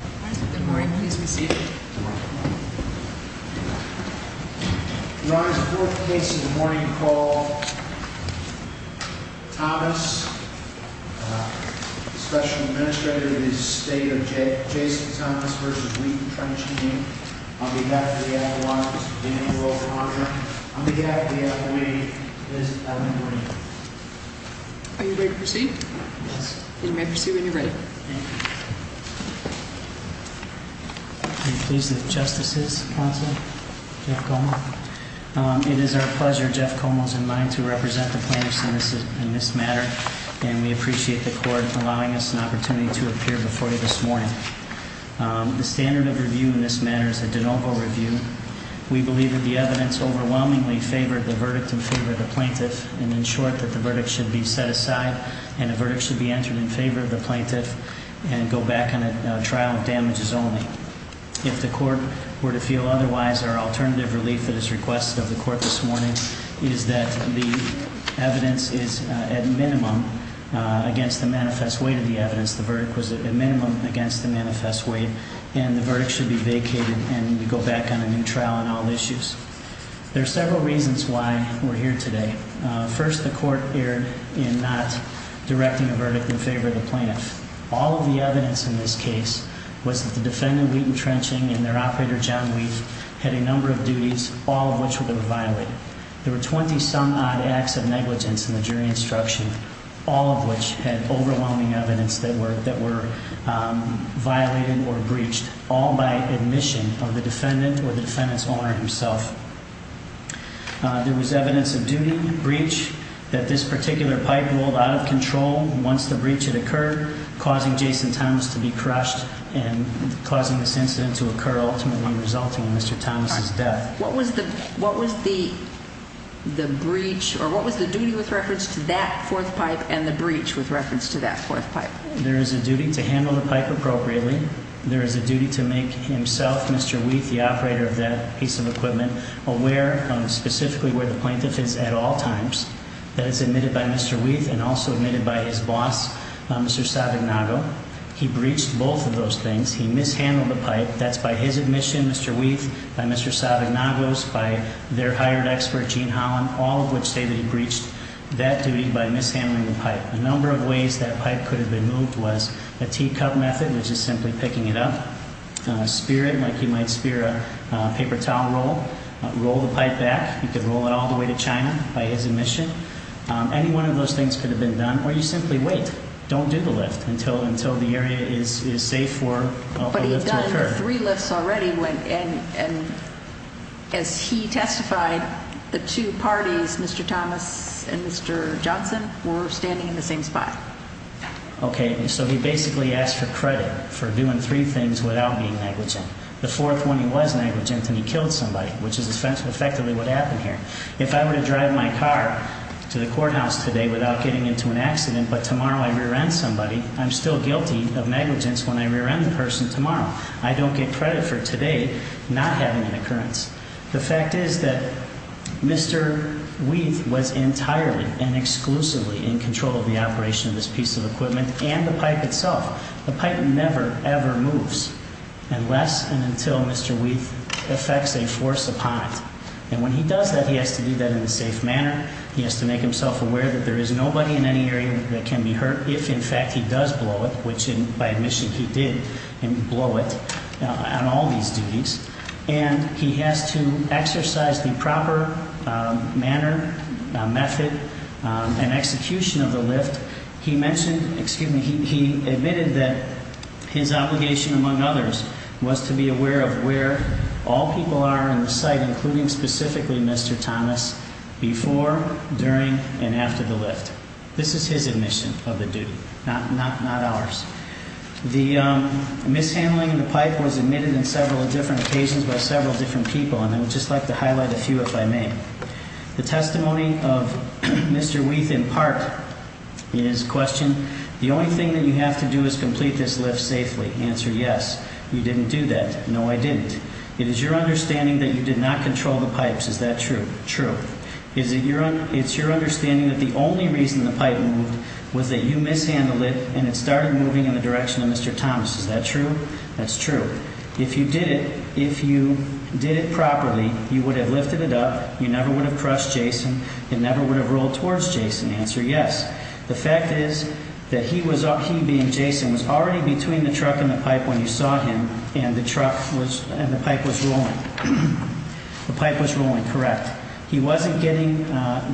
Good morning. Please be seated. Good morning. Your Honor, the fourth case in the morning called Thomas, Special Administrator of the Estate of Jason Thomas v. Wheaton Trench Canyon on behalf of the Adelaide District of Indian World, Your Honor. On behalf of the Adelaide, it is an honor to be here. Are you ready to proceed? Yes. You may proceed when you're ready. Thank you. Are you pleased with Justices, Counsel? Jeff Como. It is our pleasure, Jeff Como is in line to represent the plaintiffs in this matter. And we appreciate the court allowing us an opportunity to appear before you this morning. The standard of review in this matter is a de novo review. We believe that the evidence overwhelmingly favored the verdict in favor of the plaintiff and ensured that the verdict should be set aside and a verdict should be entered in favor of the plaintiff and go back on a trial of damages only. If the court were to feel otherwise, our alternative relief at this request of the court this morning is that the evidence is at minimum against the manifest weight of the evidence, the verdict was at minimum against the manifest weight, and the verdict should be vacated and go back on a new trial on all issues. There are several reasons why we're here today. First, the court erred in not directing a verdict in favor of the plaintiff. All of the evidence in this case was that the defendant, Wheaton Trenching, and their operator, John Wheat, had a number of duties, all of which were violated. There were 20-some-odd acts of negligence in the jury instruction, all of which had overwhelming evidence that were violated or breached, all by admission of the defendant or the defendant's owner himself. There was evidence of duty, breach, that this particular pipe rolled out of control once the breach had occurred, causing Jason Thomas to be crushed and causing this incident to occur ultimately resulting in Mr. Thomas' death. What was the duty with reference to that fourth pipe and the breach with reference to that fourth pipe? There is a duty to handle the pipe appropriately. There is a duty to make himself, Mr. Wheat, the operator of that piece of equipment, aware of specifically where the plaintiff is at all times. That is admitted by Mr. Wheat and also admitted by his boss, Mr. Sabagnago. He breached both of those things. He mishandled the pipe. That's by his admission, Mr. Wheat, by Mr. Sabagnago's, by their hired expert, Gene Holland, all of which say that he breached that duty by mishandling the pipe. A number of ways that pipe could have been moved was a teacup method, which is simply picking it up, spear it like you might spear a paper towel roll, roll the pipe back. You could roll it all the way to China by his admission. Any one of those things could have been done, or you simply wait. Don't do the lift until the area is safe for a lift to occur. But he's done three lifts already, and as he testified, the two parties, Mr. Thomas and Mr. Johnson, were standing in the same spot. Okay, so he basically asked for credit for doing three things without being negligent. The fourth one, he was negligent, and he killed somebody, which is effectively what happened here. If I were to drive my car to the courthouse today without getting into an accident, but tomorrow I rear-end somebody, I'm still guilty of negligence when I rear-end the person tomorrow. I don't get credit for today not having an occurrence. The fact is that Mr. Wheat was entirely and exclusively in control of the operation of this piece of equipment and the pipe itself. The pipe never, ever moves unless and until Mr. Wheat effects a force upon it. And when he does that, he has to do that in a safe manner. He has to make himself aware that there is nobody in any area that can be hurt if, in fact, he does blow it, which by admission he did blow it on all these duties. And he has to exercise the proper manner, method, and execution of the lift. He admitted that his obligation, among others, was to be aware of where all people are in the site, including specifically Mr. Thomas, before, during, and after the lift. This is his admission of the duty, not ours. The mishandling of the pipe was admitted on several different occasions by several different people, and I would just like to highlight a few if I may. The testimony of Mr. Wheat, in part, is a question. The only thing that you have to do is complete this lift safely. Answer, yes. You didn't do that. No, I didn't. It is your understanding that you did not control the pipes. Is that true? True. It's your understanding that the only reason the pipe moved was that you mishandled it, and it started moving in the direction of Mr. Thomas. Is that true? That's true. If you did it, if you did it properly, you would have lifted it up, you never would have crushed Jason, it never would have rolled towards Jason. Answer, yes. The fact is that he was up, he being Jason, was already between the truck and the pipe when you saw him, and the truck was, and the pipe was rolling. The pipe was rolling, correct. He wasn't getting,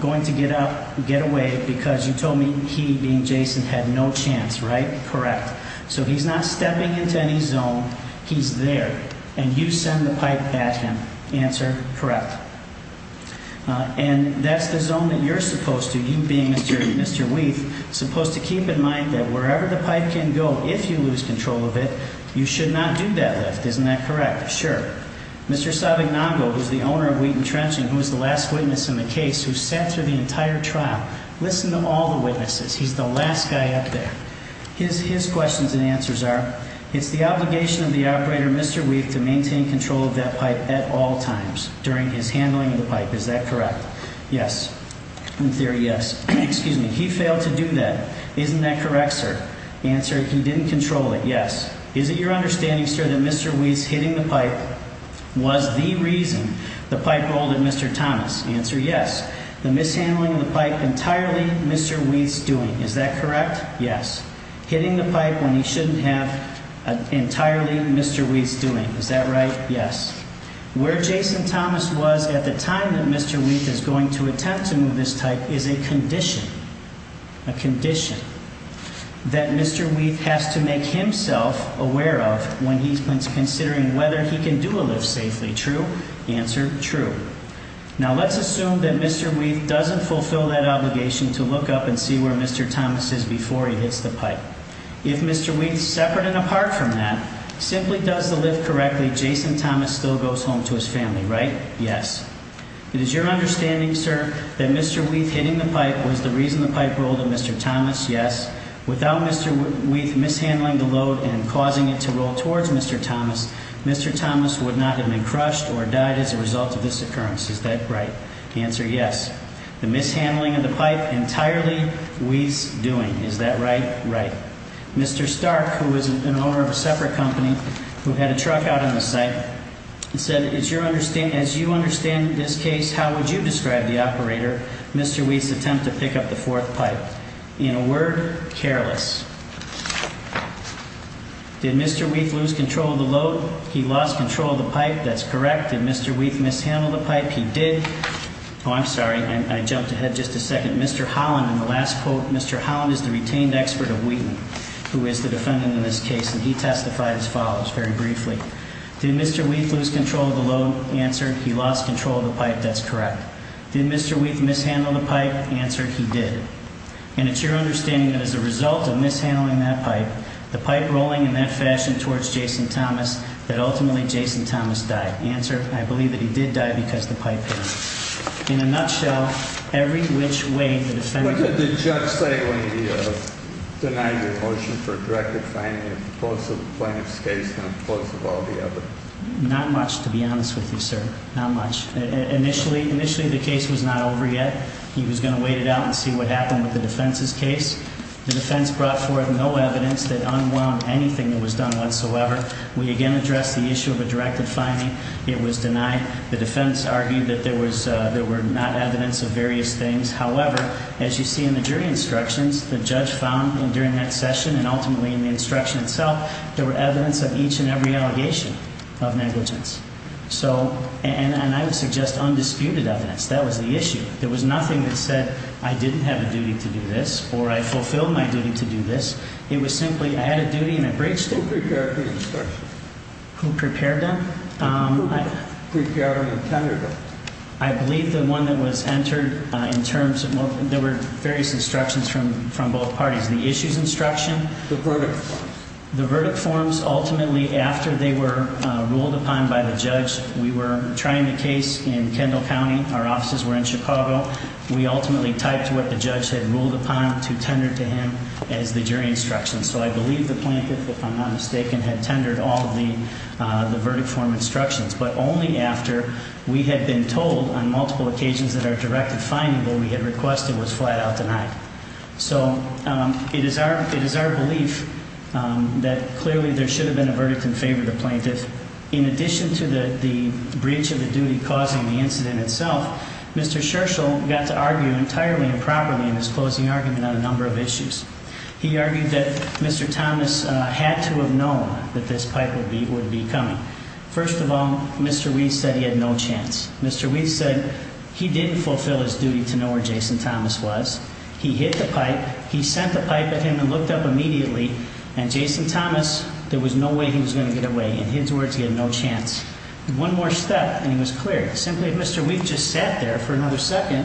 going to get up, get away, because you told me he, being Jason, had no chance, right? Correct. So he's not stepping into any zone. He's there, and you send the pipe at him. Answer, correct. And that's the zone that you're supposed to, you being Mr. Weath, supposed to keep in mind that wherever the pipe can go, if you lose control of it, you should not do that lift. Isn't that correct? Sure. Mr. Savignongo, who's the owner of Wheaton Trench, and who was the last witness in the case, who sat through the entire trial, listen to all the witnesses. He's the last guy up there. His questions and answers are, it's the obligation of the operator, Mr. Weath, to maintain control of that pipe at all times during his handling of the pipe. Is that correct? Yes. In theory, yes. Excuse me. He failed to do that. Isn't that correct, sir? Answer, he didn't control it. Yes. Is it your understanding, sir, that Mr. Weath's hitting the pipe was the reason the pipe rolled at Mr. Thomas? Answer, yes. The mishandling of the pipe, entirely Mr. Weath's doing. Is that correct? Yes. Hitting the pipe when he shouldn't have entirely Mr. Weath's doing. Is that right? Yes. Where Jason Thomas was at the time that Mr. Weath is going to attempt to move this pipe is a condition, a condition that Mr. Weath has to make himself aware of when he's considering whether he can do a lift safely. True? Answer, true. Now, let's assume that Mr. Weath doesn't fulfill that obligation to look up and see where Mr. Thomas is before he hits the pipe. If Mr. Weath's separate and apart from that, simply does the lift correctly, Jason Thomas still goes home to his family, right? Yes. Is it your understanding, sir, that Mr. Weath hitting the pipe was the reason the pipe rolled at Mr. Thomas? Yes. Without Mr. Weath mishandling the load and causing it to roll towards Mr. Thomas, Mr. Thomas would not have been crushed or died as a result of this occurrence. Is that right? Answer, yes. The mishandling of the pipe entirely Weath's doing. Is that right? Right. Mr. Stark, who is an owner of a separate company who had a truck out on the site, said, as you understand this case, how would you describe the operator Mr. Weath's attempt to pick up the fourth pipe? In a word, careless. Did Mr. Weath lose control of the load? He lost control of the pipe. That's correct. Did Mr. Weath mishandle the pipe? He did. Oh, I'm sorry. I jumped ahead just a second. Mr. Holland, in the last quote, Mr. Holland is the retained expert of Wheaton, who is the defendant in this case, and he testified as follows very briefly. Did Mr. Weath lose control of the load? Answer, he lost control of the pipe. That's correct. Did Mr. Weath mishandle the pipe? Answer, he did. And it's your understanding that as a result of mishandling that pipe, the pipe rolling in that fashion towards Jason Thomas, that ultimately Jason Thomas died. Answer, I believe that he did die because the pipe hit him. In a nutshell, every which way the defendant could have done it. What did the judge say when he denied your motion for a directed finding of the plaintiff's case in the course of all the evidence? Not much, to be honest with you, sir. Not much. Initially the case was not over yet. He was going to wait it out and see what happened with the defense's case. The defense brought forth no evidence that unwound anything that was done whatsoever. We again addressed the issue of a directed finding. It was denied. The defense argued that there were not evidence of various things. However, as you see in the jury instructions, the judge found during that session and ultimately in the instruction itself, there were evidence of each and every allegation of negligence. And I would suggest undisputed evidence. That was the issue. There was nothing that said I didn't have a duty to do this or I fulfilled my duty to do this. It was simply I had a duty and I breached it. Who prepared the instructions? Who prepared them? Who prepared and attended them? I believe the one that was entered in terms of there were various instructions from both parties. The issues instruction. The verdict forms. The verdict forms ultimately after they were ruled upon by the judge. We were trying the case in Kendall County. Our offices were in Chicago. We ultimately typed what the judge had ruled upon to tender to him as the jury instructions. So I believe the plaintiff, if I'm not mistaken, had tendered all of the verdict form instructions. But only after we had been told on multiple occasions that our directed finding that we had requested was flat out denied. So it is our belief that clearly there should have been a verdict in favor of the plaintiff. In addition to the breach of the duty causing the incident itself, Mr. Scherchl got to argue entirely improperly in his closing argument on a number of issues. He argued that Mr. Thomas had to have known that this pipe would be coming. First of all, Mr. Weiss said he had no chance. Mr. Weiss said he didn't fulfill his duty to know where Jason Thomas was. He hit the pipe. He sent the pipe at him and looked up immediately. And Jason Thomas, there was no way he was going to get away. In his words, he had no chance. One more step and he was cleared. Simply, Mr. Weiss just sat there for another second,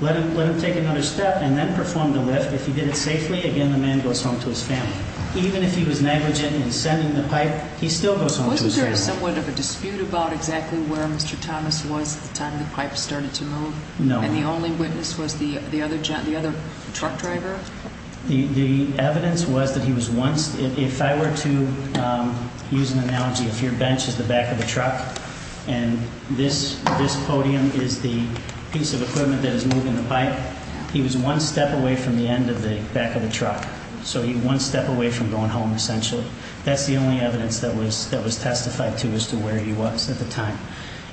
let him take another step and then perform the lift. If he did it safely, again, the man goes home to his family. Even if he was negligent in sending the pipe, he still goes home to his family. Wasn't there somewhat of a dispute about exactly where Mr. Thomas was at the time the pipe started to move? No. And the only witness was the other truck driver? The evidence was that he was once, if I were to use an analogy, if your bench is the back of the truck and this podium is the piece of equipment that is moving the pipe, he was one step away from the end of the back of the truck. So he was one step away from going home, essentially. That's the only evidence that was testified to as to where he was at the time.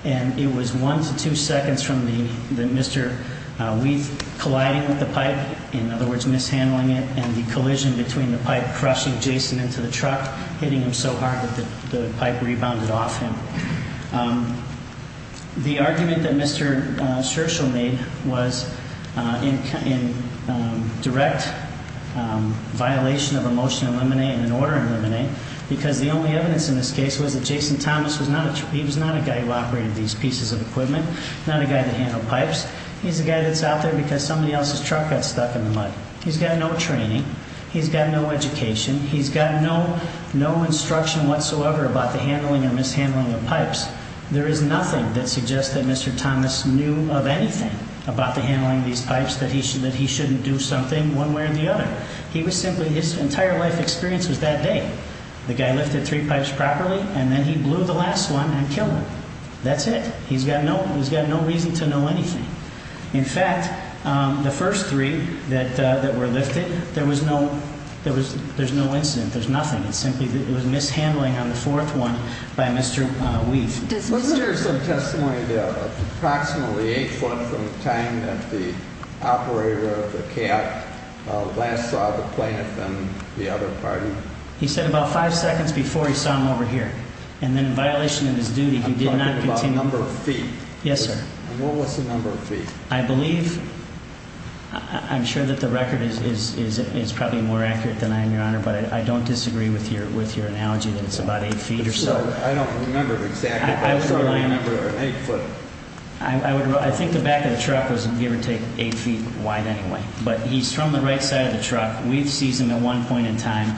And it was one to two seconds from Mr. Weiss colliding with the pipe, in other words, mishandling it, and the collision between the pipe crushing Jason into the truck, hitting him so hard that the pipe rebounded off him. The argument that Mr. Scherchl made was in direct violation of a motion in limine and an order in limine because the only evidence in this case was that Jason Thomas was not a guy who operated these pieces of equipment, not a guy that handled pipes. He's a guy that's out there because somebody else's truck got stuck in the mud. He's got no training. He's got no education. He's got no instruction whatsoever about the handling or mishandling of pipes. There is nothing that suggests that Mr. Thomas knew of anything about the handling of these pipes, that he shouldn't do something one way or the other. His entire life experience was that day. The guy lifted three pipes properly, and then he blew the last one and killed him. That's it. He's got no reason to know anything. In fact, the first three that were lifted, there was no incident. There's nothing. It's simply that it was mishandling on the fourth one by Mr. Weiss. Let's hear some testimony, approximately eight foot from the time that the operator of the cab last saw the plaintiff and the other partner. He said about five seconds before he saw him over here. And then in violation of his duty, he did not continue. I'm talking about the number of feet. Yes, sir. And what was the number of feet? I believe, I'm sure that the record is probably more accurate than I am, Your Honor, but I don't disagree with your analogy that it's about eight feet or so. I don't remember exactly, but I'm sure I remember an eight foot. I think the back of the truck was, give or take, eight feet wide anyway. But he's from the right side of the truck. We've seized him at one point in time.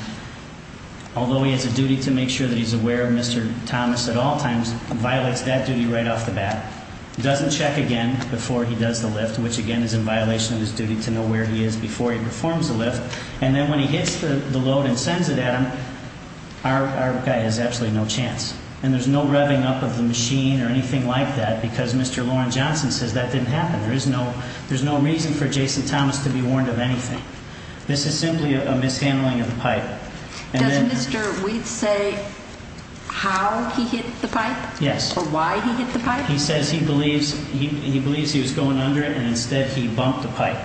Although he has a duty to make sure that he's aware of Mr. Thomas at all times, he violates that duty right off the bat, doesn't check again before he does the lift, which, again, is in violation of his duty to know where he is before he performs the lift. And then when he hits the load and sends it at him, our guy has absolutely no chance. And there's no revving up of the machine or anything like that because Mr. Loren Johnson says that didn't happen. There's no reason for Jason Thomas to be warned of anything. This is simply a mishandling of the pipe. Does Mr. Wheat say how he hit the pipe? Yes. Or why he hit the pipe? He says he believes he was going under it, and instead he bumped the pipe.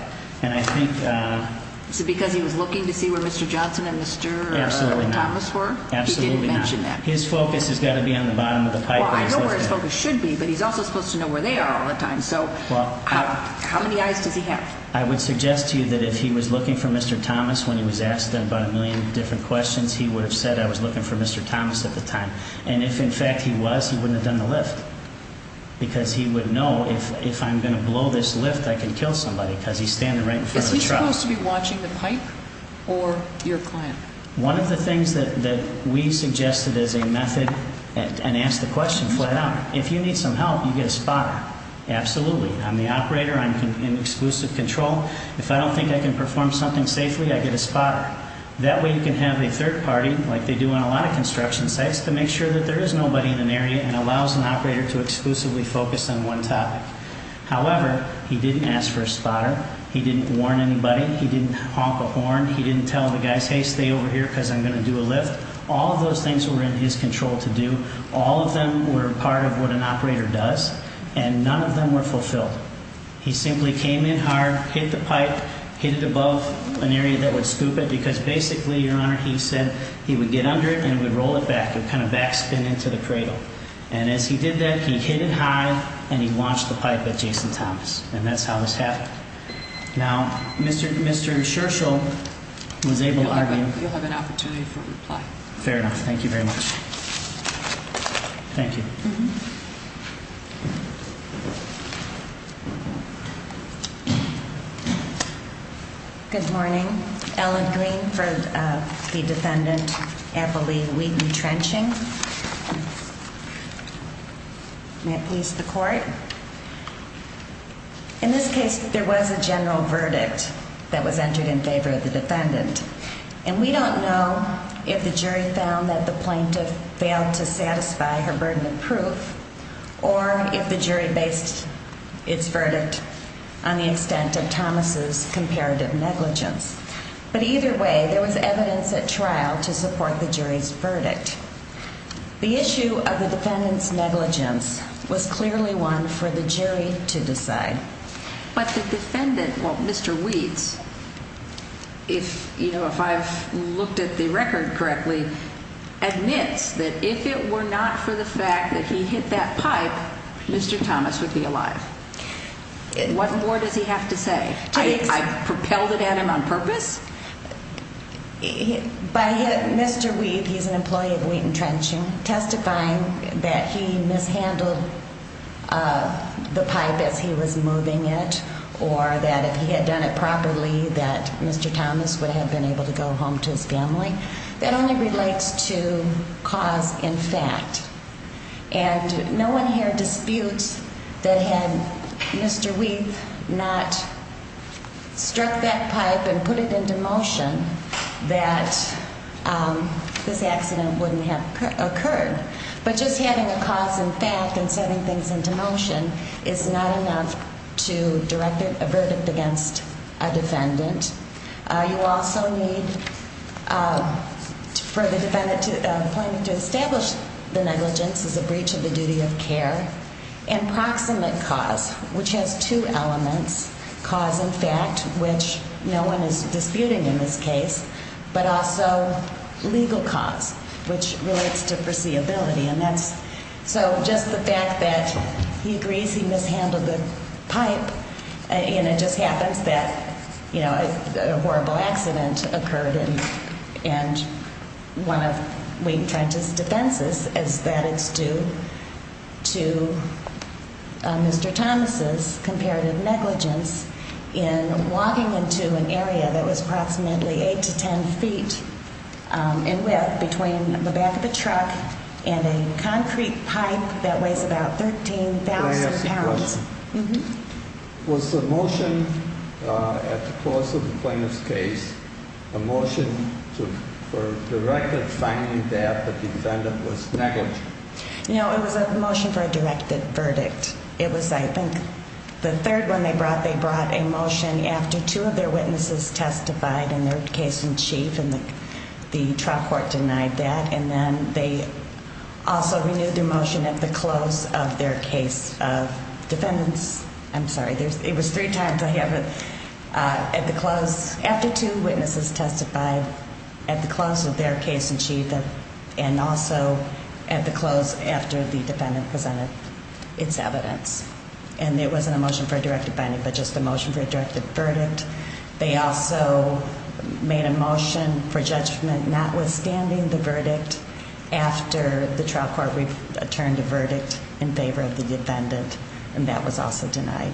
Is it because he was looking to see where Mr. Johnson and Mr. Thomas were? Absolutely not. He didn't mention that. His focus has got to be on the bottom of the pipe. I know where his focus should be, but he's also supposed to know where they are all the time. So how many eyes does he have? I would suggest to you that if he was looking for Mr. Thomas when he was asked about a million different questions, he would have said, I was looking for Mr. Thomas at the time. And if, in fact, he was, he wouldn't have done the lift because he would know if I'm going to blow this lift, I can kill somebody because he's standing right in front of the truck. Is he supposed to be watching the pipe or your client? One of the things that we suggested as a method, and asked the question flat out, if you need some help, you get a spotter. Absolutely. I'm the operator. I'm in exclusive control. If I don't think I can perform something safely, I get a spotter. That way you can have a third party, like they do on a lot of construction sites, to make sure that there is nobody in an area and allows an operator to exclusively focus on one topic. However, he didn't ask for a spotter. He didn't warn anybody. He didn't honk a horn. He didn't tell the guys, hey, stay over here because I'm going to do a lift. All of those things were in his control to do. All of them were part of what an operator does, and none of them were fulfilled. He simply came in hard, hit the pipe, hit it above an area that would scoop it because basically, Your Honor, he said he would get under it and he would roll it back. It would kind of backspin into the cradle. And as he did that, he hit it high and he launched the pipe at Jason Thomas, and that's how this happened. Now, Mr. Scherchl was able to argue. You'll have an opportunity for reply. Fair enough. Thank you very much. Thank you. Thank you. Good morning. Ellen Green for the defendant, Abilene Wheaton Trenching. May it please the court. In this case, there was a general verdict that was entered in favor of the defendant, and we don't know if the jury found that the plaintiff failed to satisfy her burden of proof or if the jury based its verdict on the extent of Thomas' comparative negligence. But either way, there was evidence at trial to support the jury's verdict. The issue of the defendant's negligence was clearly one for the jury to decide. But the defendant, well, Mr. Weeds, if I've looked at the record correctly, admits that if it were not for the fact that he hit that pipe, Mr. Thomas would be alive. What more does he have to say? I propelled it at him on purpose? By Mr. Weeds, he's an employee of Wheaton Trenching, testifying that he mishandled the pipe as he was moving it or that if he had done it properly that Mr. Thomas would have been able to go home to his family. That only relates to cause in fact. And no one here disputes that had Mr. Weeds not struck that pipe and put it into motion that this accident wouldn't have occurred. But just having a cause in fact and setting things into motion is not enough to direct a verdict against a defendant. You also need for the defendant to establish the negligence as a breach of the duty of care and proximate cause, which has two elements, cause in fact, which no one is disputing in this case, but also legal cause, which relates to foreseeability. So just the fact that he agrees he mishandled the pipe and it just happens that a horrible accident occurred in one of Wheaton Trench's defenses is that it's due to Mr. Thomas's comparative negligence in walking into an area that was approximately 8 to 10 feet in width between the back of the truck and a concrete pipe that weighs about 13,000 pounds. Was the motion at the close of the plaintiff's case a motion for directed finding that the defendant was negligent? No, it was a motion for a directed verdict. It was, I think, the third one they brought, they brought a motion after two of their witnesses testified in their case in chief and the trial court denied that, and then they also renewed their motion at the close of their case of defendants. I'm sorry, it was three times I have it. At the close, after two witnesses testified at the close of their case in chief and also at the close after the defendant presented its evidence. And it wasn't a motion for a directed finding, but just a motion for a directed verdict. They also made a motion for judgment notwithstanding the verdict after the trial court returned a verdict in favor of the defendant, and that was also denied.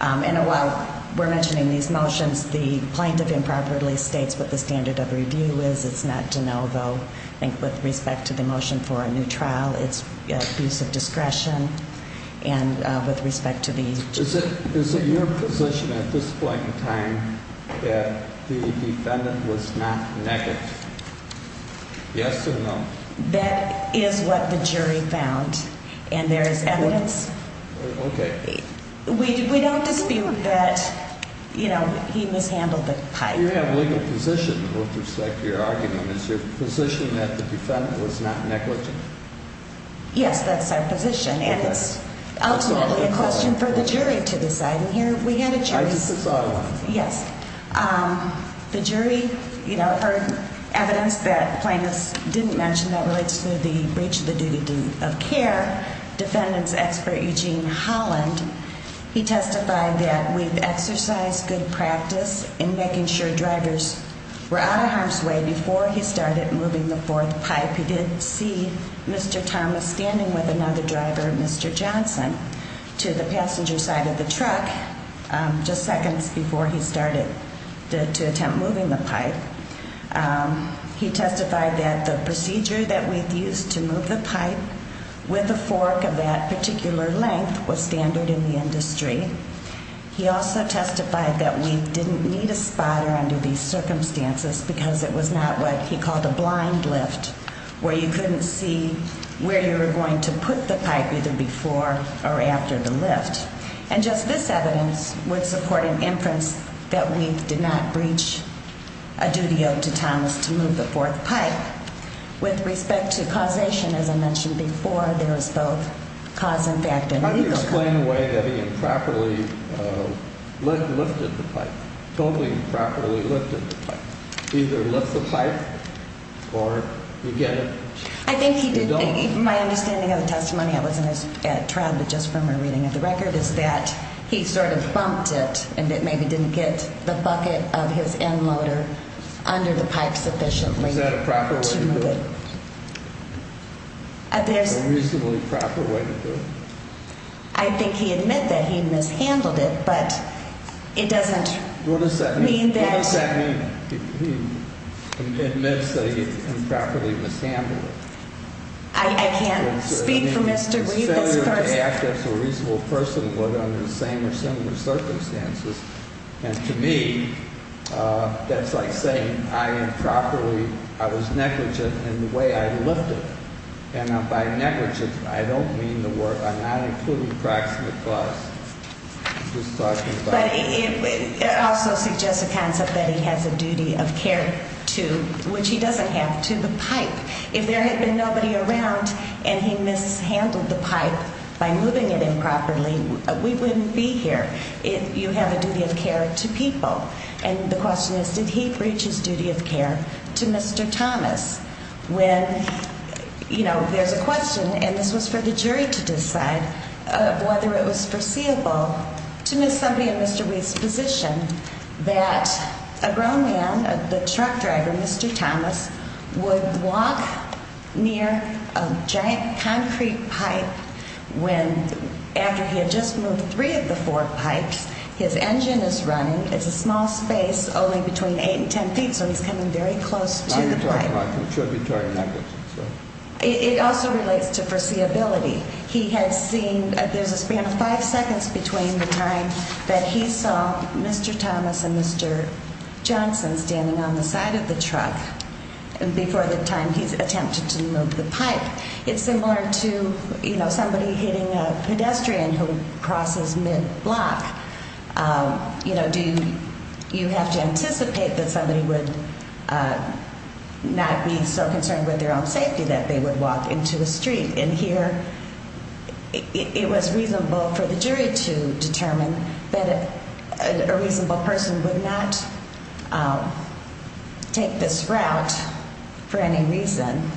And while we're mentioning these motions, the plaintiff improperly states what the standard of review is. It's not to know, though. I think with respect to the motion for a new trial, it's abuse of discretion. And with respect to the jury. Is it your position at this point in time that the defendant was not negligent? Yes or no? That is what the jury found, and there is evidence. Okay. We don't dispute that, you know, he mishandled the pipe. You have a legal position with respect to your argument. Is your position that the defendant was not negligent? Yes, that's our position. And it's ultimately a question for the jury to decide. And here we had a choice. Yes. The jury, you know, heard evidence that plaintiffs didn't mention that relates to the breach of the duty of care. Defendant's expert, Eugene Holland, he testified that we've exercised good practice in making sure drivers were out of harm's way before he started moving the fourth pipe. He did see Mr. Thomas standing with another driver, Mr. Johnson, to the passenger side of the truck just seconds before he started to attempt moving the pipe. He testified that the procedure that we've used to move the pipe with the fork of that particular length was standard in the industry. He also testified that we didn't need a spotter under these circumstances because it was not what he called a blind lift where you couldn't see where you were going to put the pipe either before or after the lift. And just this evidence would support an inference that we did not breach a duty owed to Thomas to move the fourth pipe. With respect to causation, as I mentioned before, there is both cause and effect and legal cause. The plain way that he improperly lifted the pipe, totally improperly lifted the pipe, either lift the pipe or you get it. I think he did. My understanding of the testimony that was in his trial, but just from a reading of the record, is that he sort of bumped it and that maybe didn't get the bucket of his end loader under the pipe sufficiently to move it. Was that a proper way to do it? A reasonably proper way to do it. I think he admit that he mishandled it, but it doesn't mean that. What does that mean? He admits that he improperly mishandled it. I can't speak for Mr. Green. It's a failure to act as a reasonable person, whether under the same or similar circumstances. And to me, that's like saying I improperly, I was negligent in the way I lifted. And by negligence, I don't mean the work. I'm not including proximate cause. But it also suggests a concept that he has a duty of care to, which he doesn't have, to the pipe. If there had been nobody around and he mishandled the pipe by moving it improperly, we wouldn't be here. You have a duty of care to people. And the question is, did he breach his duty of care to Mr. Thomas? When, you know, there's a question, and this was for the jury to decide, whether it was foreseeable to miss somebody in Mr. Wheat's position, that a grown man, the truck driver, Mr. Thomas, would walk near a giant concrete pipe when, after he had just moved three of the four pipes, his engine is running. It's a small space, only between eight and ten feet, so he's coming very close to the pipe. Now you're talking about contributory negligence. It also relates to foreseeability. He has seen, there's a span of five seconds between the time that he saw Mr. Thomas and Mr. Johnson standing on the side of the truck and before the time he's attempted to move the pipe. It's similar to, you know, somebody hitting a pedestrian who crosses mid-block. You know, do you have to anticipate that somebody would not be so concerned with their own safety that they would walk into a street? And here, it was reasonable for the jury to determine that a reasonable person would not take this route for any reason,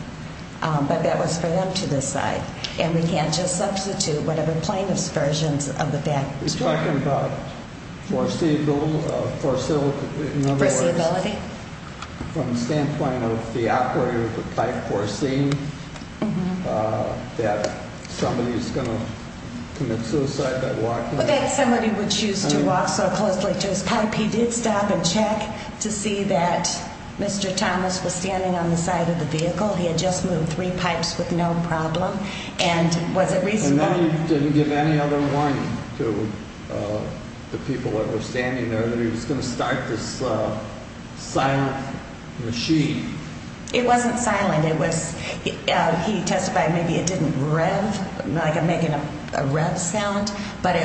but that was for them to decide. And we can't just substitute whatever plaintiff's version of the fact. You're talking about foreseeability? In other words, from the standpoint of the operator of the pipe foreseeing that somebody's going to commit suicide by walking? Well, that somebody would choose to walk so closely to his pipe. He did stop and check to see that Mr. Thomas was standing on the side of the vehicle. He had just moved three pipes with no problem. And was it reasonable? And then he didn't give any other warning to the people that were standing there that he was going to start this silent machine. It wasn't silent. He testified maybe it didn't rev, like making a rev sound, but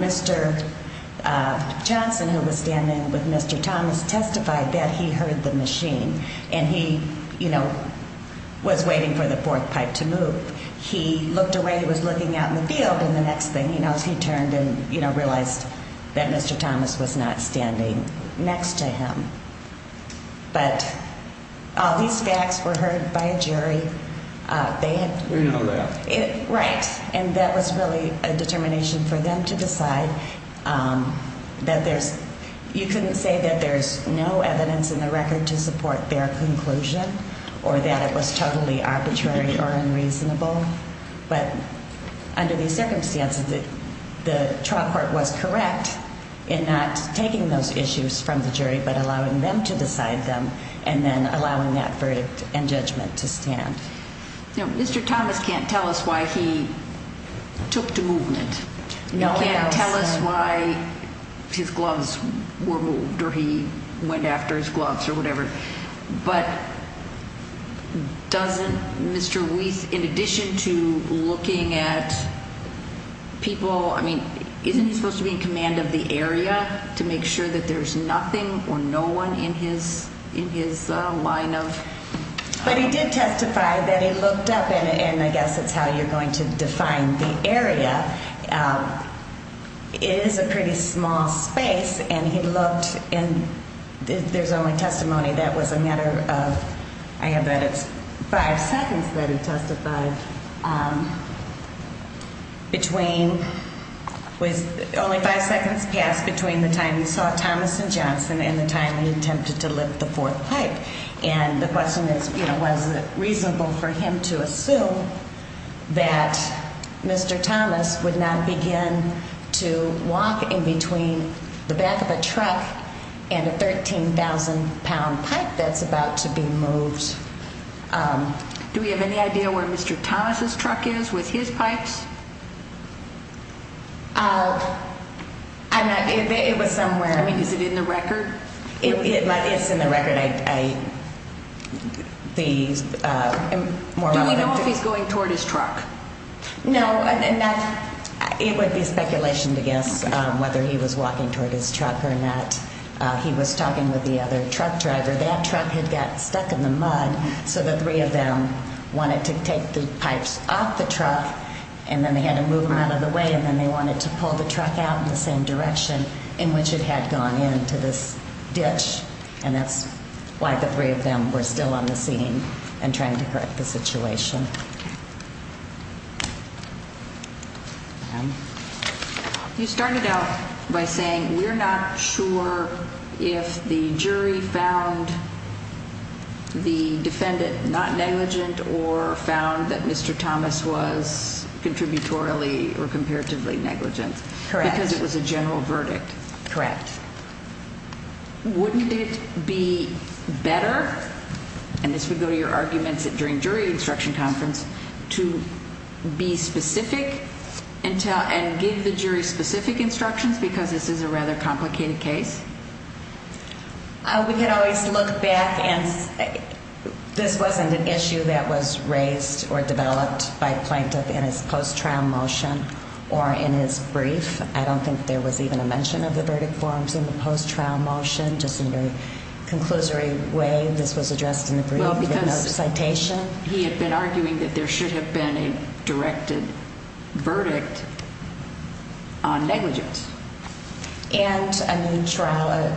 Mr. Johnson, who was standing with Mr. Thomas, testified that he heard the machine. And he, you know, was waiting for the fourth pipe to move. He looked away. He was looking out in the field. And the next thing he knows, he turned and, you know, realized that Mr. Thomas was not standing next to him. But all these facts were heard by a jury. They had to know that. Right. And that was really a determination for them to decide that there's no evidence in the record to support their conclusion or that it was totally arbitrary or unreasonable. But under these circumstances, the trial court was correct in not taking those issues from the jury but allowing them to decide them and then allowing that verdict and judgment to stand. Now, Mr. Thomas can't tell us why he took to movement. No, he can't. He can't tell us why his gloves were moved or he went after his gloves or whatever. But doesn't Mr. Weiss, in addition to looking at people, I mean, isn't he supposed to be in command of the area to make sure that there's nothing or no one in his line of... But he did testify that he looked up, and I guess that's how you're going to define the area. It is a pretty small space, and he looked, and there's only testimony. That was a matter of, I have that it's five seconds that he testified between, it was only five seconds passed between the time he saw Thomas and Johnson and the time he attempted to lift the fourth pipe. And the question is, you know, was it reasonable for him to assume that Mr. Thomas would not begin to walk in between the back of a truck and a 13,000-pound pipe that's about to be moved? Do we have any idea where Mr. Thomas' truck is with his pipes? I'm not, it was somewhere. I mean, is it in the record? It's in the record. Don't we know if he's going toward his truck? No. It would be speculation to guess whether he was walking toward his truck or not. He was talking with the other truck driver. That truck had got stuck in the mud, so the three of them wanted to take the pipes off the truck, and then they had to move them out of the way, and then they wanted to pull the truck out in the same direction in which it had gone into this ditch, and that's why the three of them were still on the scene and trying to correct the situation. You started out by saying we're not sure if the jury found the defendant not negligent or found that Mr. Thomas was contributorily or comparatively negligent. Correct. Because it was a general verdict. Correct. Wouldn't it be better, and this would go to your arguments during jury instruction conference, to be specific and give the jury specific instructions because this is a rather complicated case? We could always look back and say this wasn't an issue that was raised or developed by a plaintiff in his post-trial motion or in his brief. I don't think there was even a mention of the verdict forms in the post-trial motion, just in a very conclusory way. This was addressed in the brief. Well, because he had been arguing that there should have been a directed verdict on negligence. And a new trial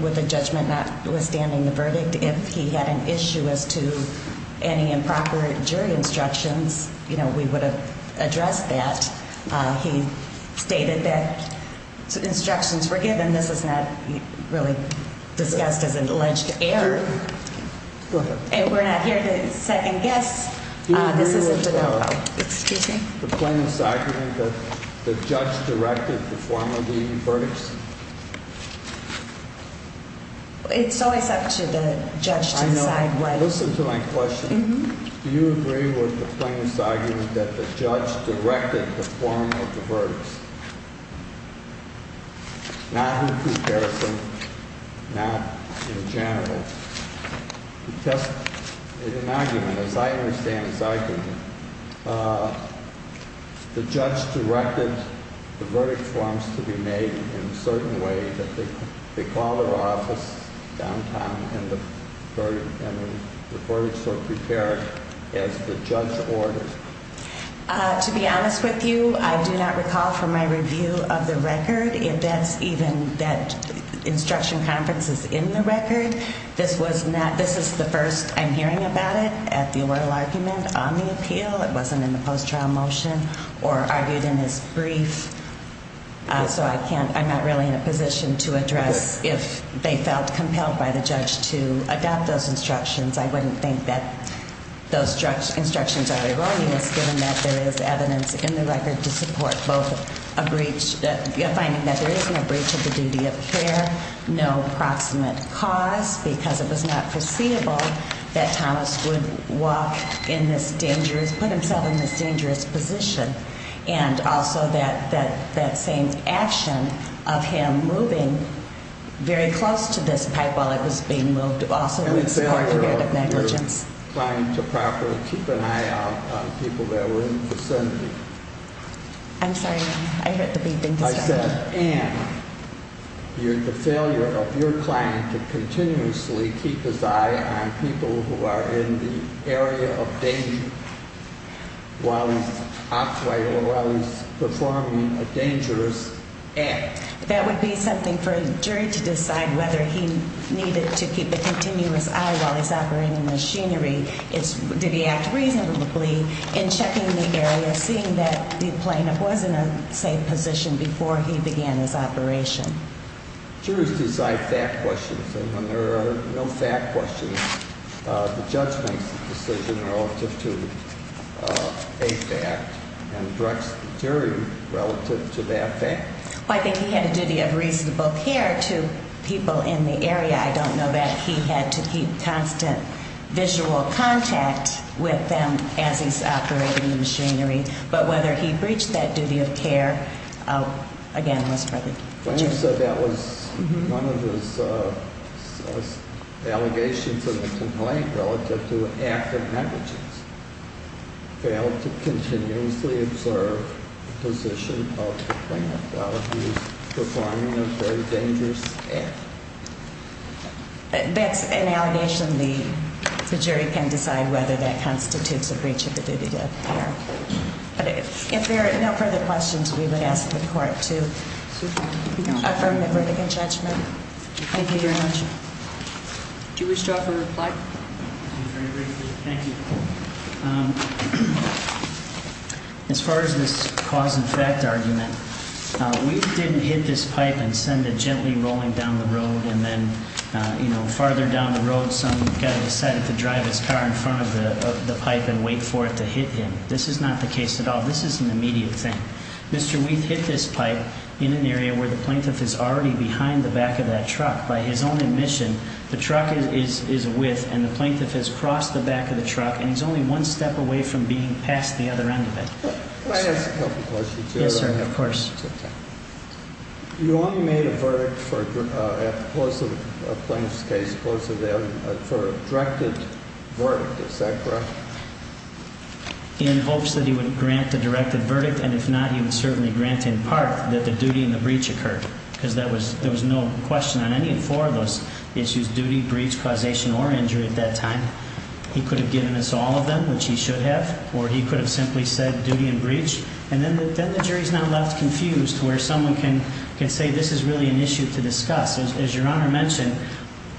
with a judgment notwithstanding the verdict, if he had an issue as to any improper jury instructions, you know, we would have addressed that. He stated that instructions were given. This is not really discussed as an alleged error. Go ahead. And we're not here to second-guess. Do you agree with the plaintiff's argument that the judge directed the form of the verdicts? It's always up to the judge to decide what. I know. Listen to my question. Do you agree with the plaintiff's argument that the judge directed the form of the verdicts? Not in comparison, not in general. Because in an argument, as I understand this argument, the judge directed the verdict forms to be made in a certain way that they call their office downtown and the verdicts are prepared as the judge ordered. To be honest with you, I do not recall from my review of the record that instruction conference is in the record. This is the first I'm hearing about it at the oral argument on the appeal. It wasn't in the post-trial motion or argued in his brief. So I'm not really in a position to address if they felt compelled by the judge to adopt those instructions. I wouldn't think that those instructions are erroneous, given that there is evidence in the record to support both finding that there isn't a breach of the duty of care, no proximate cause, because it was not foreseeable that Thomas would walk in this dangerous, put himself in this dangerous position, and also that same action of him moving very close to this pipe while it was being moved also would support preventive negligence. I'm trying to properly keep an eye out on people that were in the vicinity. I'm sorry. I heard the beeping. I said, Ann, the failure of your client to continuously keep his eye on people who are in the area of danger while he's performing a dangerous act. That would be something for a jury to decide whether he needed to keep a continuous eye while he's operating the machinery. Did he act reasonably in checking the area, seeing that the plaintiff was in a safe position before he began his operation? Jurors decide fact questions, and when there are no fact questions, the judge makes the decision relative to a fact and directs the jury relative to that fact. I think he had a duty of reasonable care to people in the area. I don't know that he had to keep constant visual contact with them as he's operating the machinery, but whether he breached that duty of care, again, was for the jury. So that was one of his allegations in the complaint relative to active negligence, that he failed to continuously observe the position of the plaintiff while he was performing a very dangerous act. That's an allegation the jury can decide whether that constitutes a breach of the duty of care. But if there are no further questions, we would ask the court to affirm the verdict in judgment. Thank you very much. Do you wish to offer a reply? Thank you. As far as this cause and fact argument, Weath didn't hit this pipe and send it gently rolling down the road, and then farther down the road some guy decided to drive his car in front of the pipe and wait for it to hit him. This is not the case at all. This is an immediate thing. Mr. Weath hit this pipe in an area where the plaintiff is already behind the back of that truck. By his own admission, the truck is a width, and the plaintiff has crossed the back of the truck, and he's only one step away from being past the other end of it. Can I ask a couple questions? Yes, sir, of course. You only made a verdict for a plaintiff's case for a directed verdict. Is that correct? In hopes that he would grant the directed verdict, and if not, he would certainly grant in part that the duty and the breach occurred, because there was no question on any of four of those issues, duty, breach, causation, or injury at that time. He could have given us all of them, which he should have, or he could have simply said duty and breach, and then the jury is now left confused where someone can say this is really an issue to discuss. As Your Honor mentioned,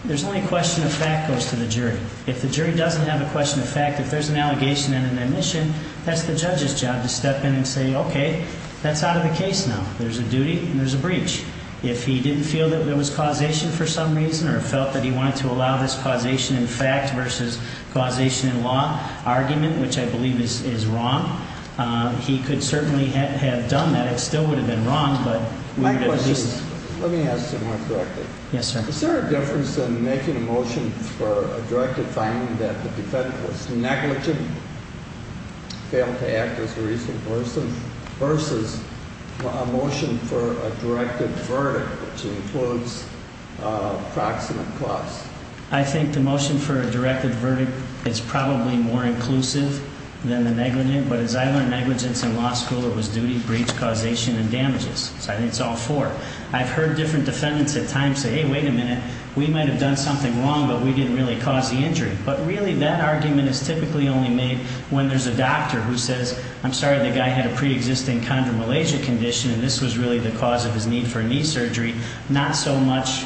there's only a question of fact that goes to the jury. If the jury doesn't have a question of fact, if there's an allegation and an admission, that's the judge's job to step in and say, okay, that's out of the case now. There's a duty and there's a breach. If he didn't feel that there was causation for some reason or felt that he wanted to allow this causation in fact versus causation in law argument, which I believe is wrong, he could certainly have done that. It still would have been wrong, but we would have at least. My question is, let me ask it more correctly. Yes, sir. Is there a difference in making a motion for a directed finding that the defendant was negligent, failed to act as a reasonable person versus a motion for a directed verdict, which includes proximate cause? I think the motion for a directed verdict is probably more inclusive than the negligent, but as I learned negligence in law school, it was duty, breach, causation, and damages. So I think it's all four. I've heard different defendants at times say, hey, wait a minute, we might have done something wrong, but we didn't really cause the injury. But really that argument is typically only made when there's a doctor who says, I'm sorry, the guy had a preexisting chondromalacia condition, and this was really the cause of his need for knee surgery, not so much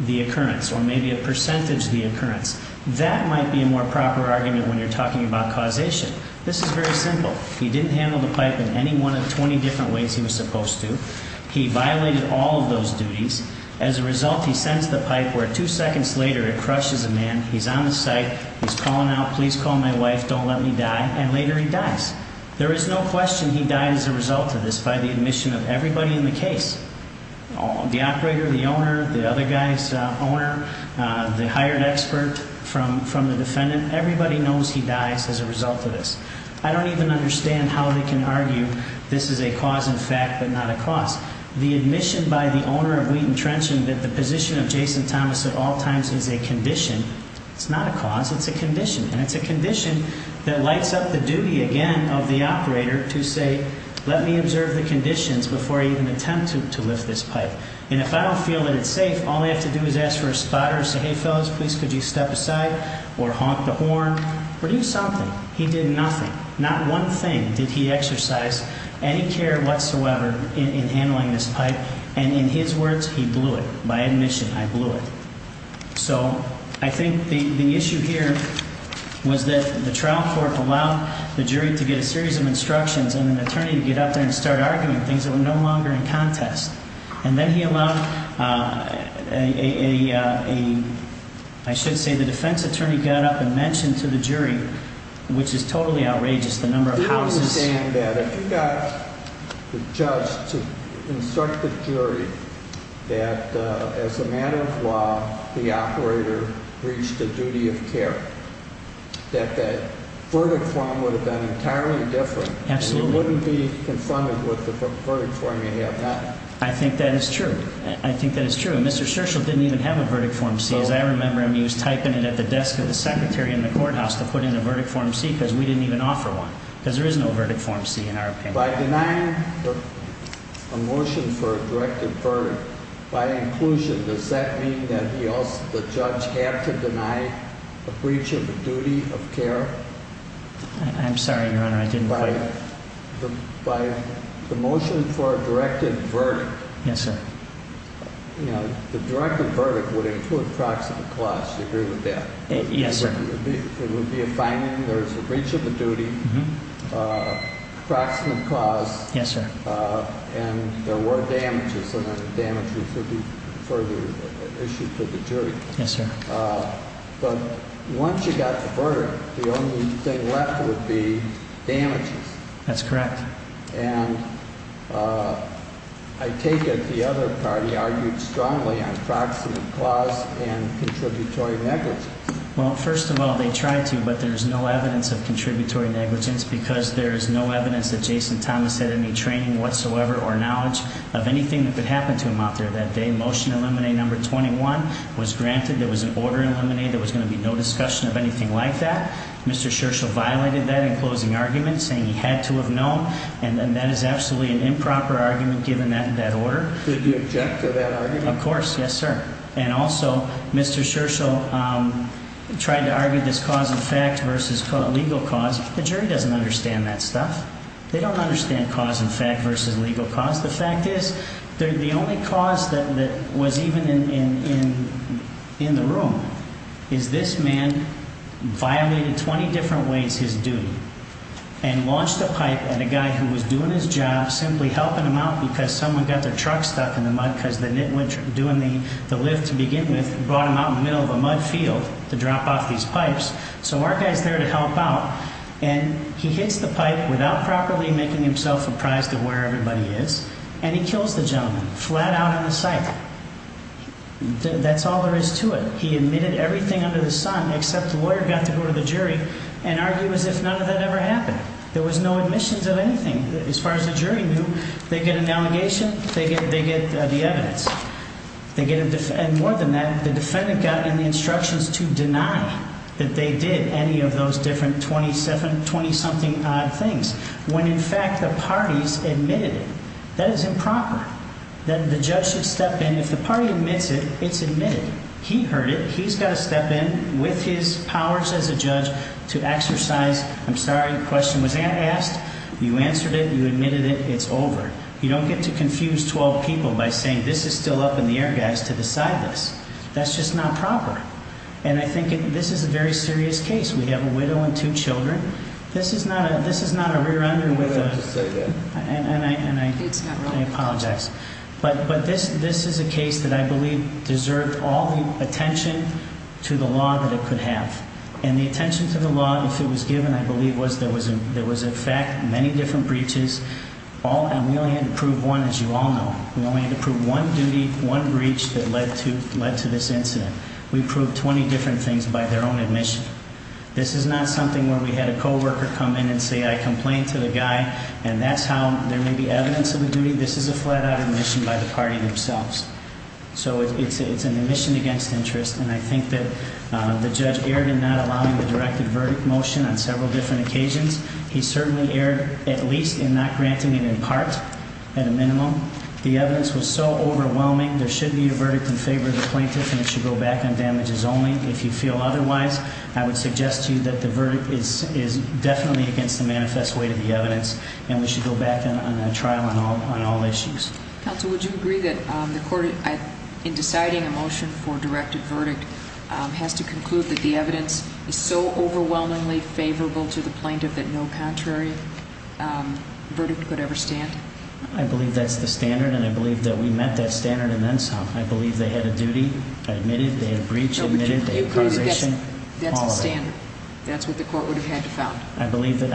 the occurrence or maybe a percentage of the occurrence. That might be a more proper argument when you're talking about causation. This is very simple. He didn't handle the pipe in any one of the 20 different ways he was supposed to. He violated all of those duties. As a result, he sends the pipe where two seconds later it crushes a man. He's on the site. He's calling out, please call my wife, don't let me die, and later he dies. There is no question he died as a result of this by the admission of everybody in the case, the operator, the owner, the other guy's owner, the hired expert from the defendant. Everybody knows he dies as a result of this. I don't even understand how they can argue this is a cause in fact but not a cause. The admission by the owner of Wheaton Trenchant that the position of Jason Thomas at all times is a condition, it's not a cause, it's a condition, and it's a condition that lights up the duty again of the operator to say, let me observe the conditions before I even attempt to lift this pipe. And if I don't feel that it's safe, all I have to do is ask for a spotter and say, hey, fellas, please could you step aside or honk the horn or do something. He did nothing. Not one thing did he exercise any care whatsoever in handling this pipe, and in his words, he blew it. By admission, I blew it. So I think the issue here was that the trial court allowed the jury to get a series of instructions and an attorney to get out there and start arguing things that were no longer in contest. And then he allowed a, I should say, the defense attorney got up and mentioned to the jury, which is totally outrageous, the number of houses. I understand that. If you got the judge to instruct the jury that as a matter of law the operator reached a duty of care, that the verdict form would have been entirely different. Absolutely. You wouldn't be confronted with the verdict form you have now. I think that is true. I think that is true. And Mr. Scherchl didn't even have a verdict form. He was typing it at the desk of the secretary in the courthouse to put in a verdict form C because we didn't even offer one because there is no verdict form C in our opinion. By denying a motion for a directed verdict by inclusion, does that mean that the judge had to deny a breach of the duty of care? I'm sorry, Your Honor, I didn't quite. By the motion for a directed verdict. Yes, sir. The directed verdict would include proximate cause. Do you agree with that? Yes, sir. It would be a finding. There is a breach of the duty, proximate cause. Yes, sir. And there were damages and the damages would be further issued to the jury. Yes, sir. But once you got the verdict, the only thing left would be damages. That's correct. And I take it the other party argued strongly on proximate cause and contributory negligence. Well, first of all, they tried to, but there is no evidence of contributory negligence because there is no evidence that Jason Thomas had any training whatsoever or knowledge of anything that could happen to him out there that day. Motion to eliminate number 21 was granted. There was an order to eliminate. There was going to be no discussion of anything like that. Mr. Scherchl violated that in closing argument, saying he had to have known, and that is absolutely an improper argument given that order. Did you object to that argument? Of course. Yes, sir. And also, Mr. Scherchl tried to argue this cause in fact versus legal cause. The jury doesn't understand that stuff. They don't understand cause in fact versus legal cause. The only cause that was even in the room is this man violated 20 different ways his duty and launched a pipe at a guy who was doing his job, simply helping him out because someone got their truck stuck in the mud because the nitwit doing the lift to begin with brought him out in the middle of a mud field to drop off these pipes. So our guy is there to help out, and he hits the pipe without properly making himself apprised of where everybody is, and he kills the gentleman flat out on the site. That's all there is to it. He admitted everything under the sun except the lawyer got to go to the jury and argue as if none of that ever happened. There was no admissions of anything. As far as the jury knew, they get an allegation, they get the evidence. And more than that, the defendant got any instructions to deny that they did any of those different 20-something odd things when in fact the parties admitted it. That is improper. The judge should step in. If the party admits it, it's admitted. He heard it. He's got to step in with his powers as a judge to exercise. I'm sorry, the question was asked. You answered it. You admitted it. It's over. You don't get to confuse 12 people by saying this is still up in the air, guys, to decide this. That's just not proper. And I think this is a very serious case. We have a widow and two children. This is not a rear-ender with a – Why don't you say that? And I apologize. But this is a case that I believe deserved all the attention to the law that it could have. And the attention to the law, if it was given, I believe, was there was, in fact, many different breaches. And we only had to prove one, as you all know. We only had to prove one duty, one breach that led to this incident. We proved 20 different things by their own admission. This is not something where we had a coworker come in and say, I complained to the guy, and that's how there may be evidence of the duty. This is a flat-out admission by the party themselves. So it's an admission against interest. And I think that the judge erred in not allowing the directed verdict motion on several different occasions. He certainly erred, at least, in not granting it in part, at a minimum. The evidence was so overwhelming. There should be a verdict in favor of the plaintiff, and it should go back on damages only. If you feel otherwise, I would suggest to you that the verdict is definitely against the manifest weight of the evidence, and we should go back on a trial on all issues. Counsel, would you agree that the court, in deciding a motion for a directed verdict, has to conclude that the evidence is so overwhelmingly favorable to the plaintiff that no contrary verdict could ever stand? I believe that's the standard, and I believe that we met that standard in NSOP. I believe they had a duty. They admitted. They had a breach. They admitted. They had causation. That's the standard. That's what the court would have had to found. I believe that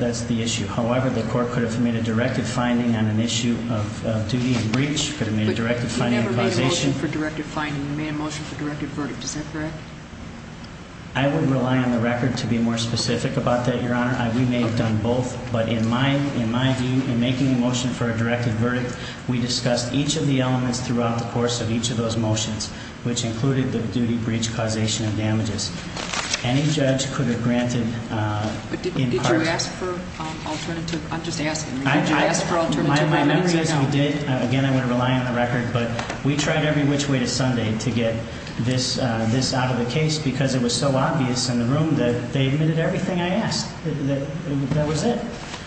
that's the issue. However, the court could have made a directed finding on an issue of duty and breach. It could have made a directed finding on causation. But you never made a motion for directed finding. You made a motion for directed verdict. Is that correct? I would rely on the record to be more specific about that, Your Honor. We may have done both, but in making the motion for a directed verdict, we discussed each of the elements throughout the course of each of those motions, which included the duty, breach, causation, and damages. Any judge could have granted in part – But did you ask for alternative? I'm just asking. Did you ask for alternative? My memory is not – My memory says we did. Again, I would rely on the record. But we tried every which way to Sunday to get this out of the case because it was so obvious in the room that they admitted everything I asked. That was it.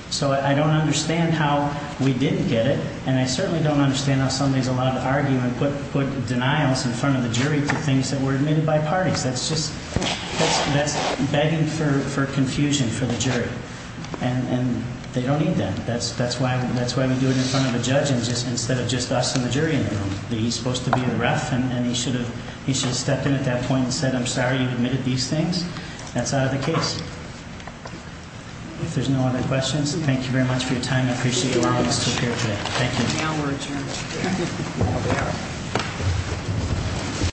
So I don't understand how we didn't get it, and I certainly don't understand how somebody is allowed to argue and put denials in front of the jury for things that were admitted by parties. That's just – that's begging for confusion for the jury. And they don't need that. That's why we do it in front of a judge instead of just us and the jury in the room. He's supposed to be the ref, and he should have stepped in at that point and said, I'm sorry you admitted these things. That's out of the case. If there's no other questions, thank you very much for your time. I appreciate you allowing us to appear today. Thank you. Now we're adjourned.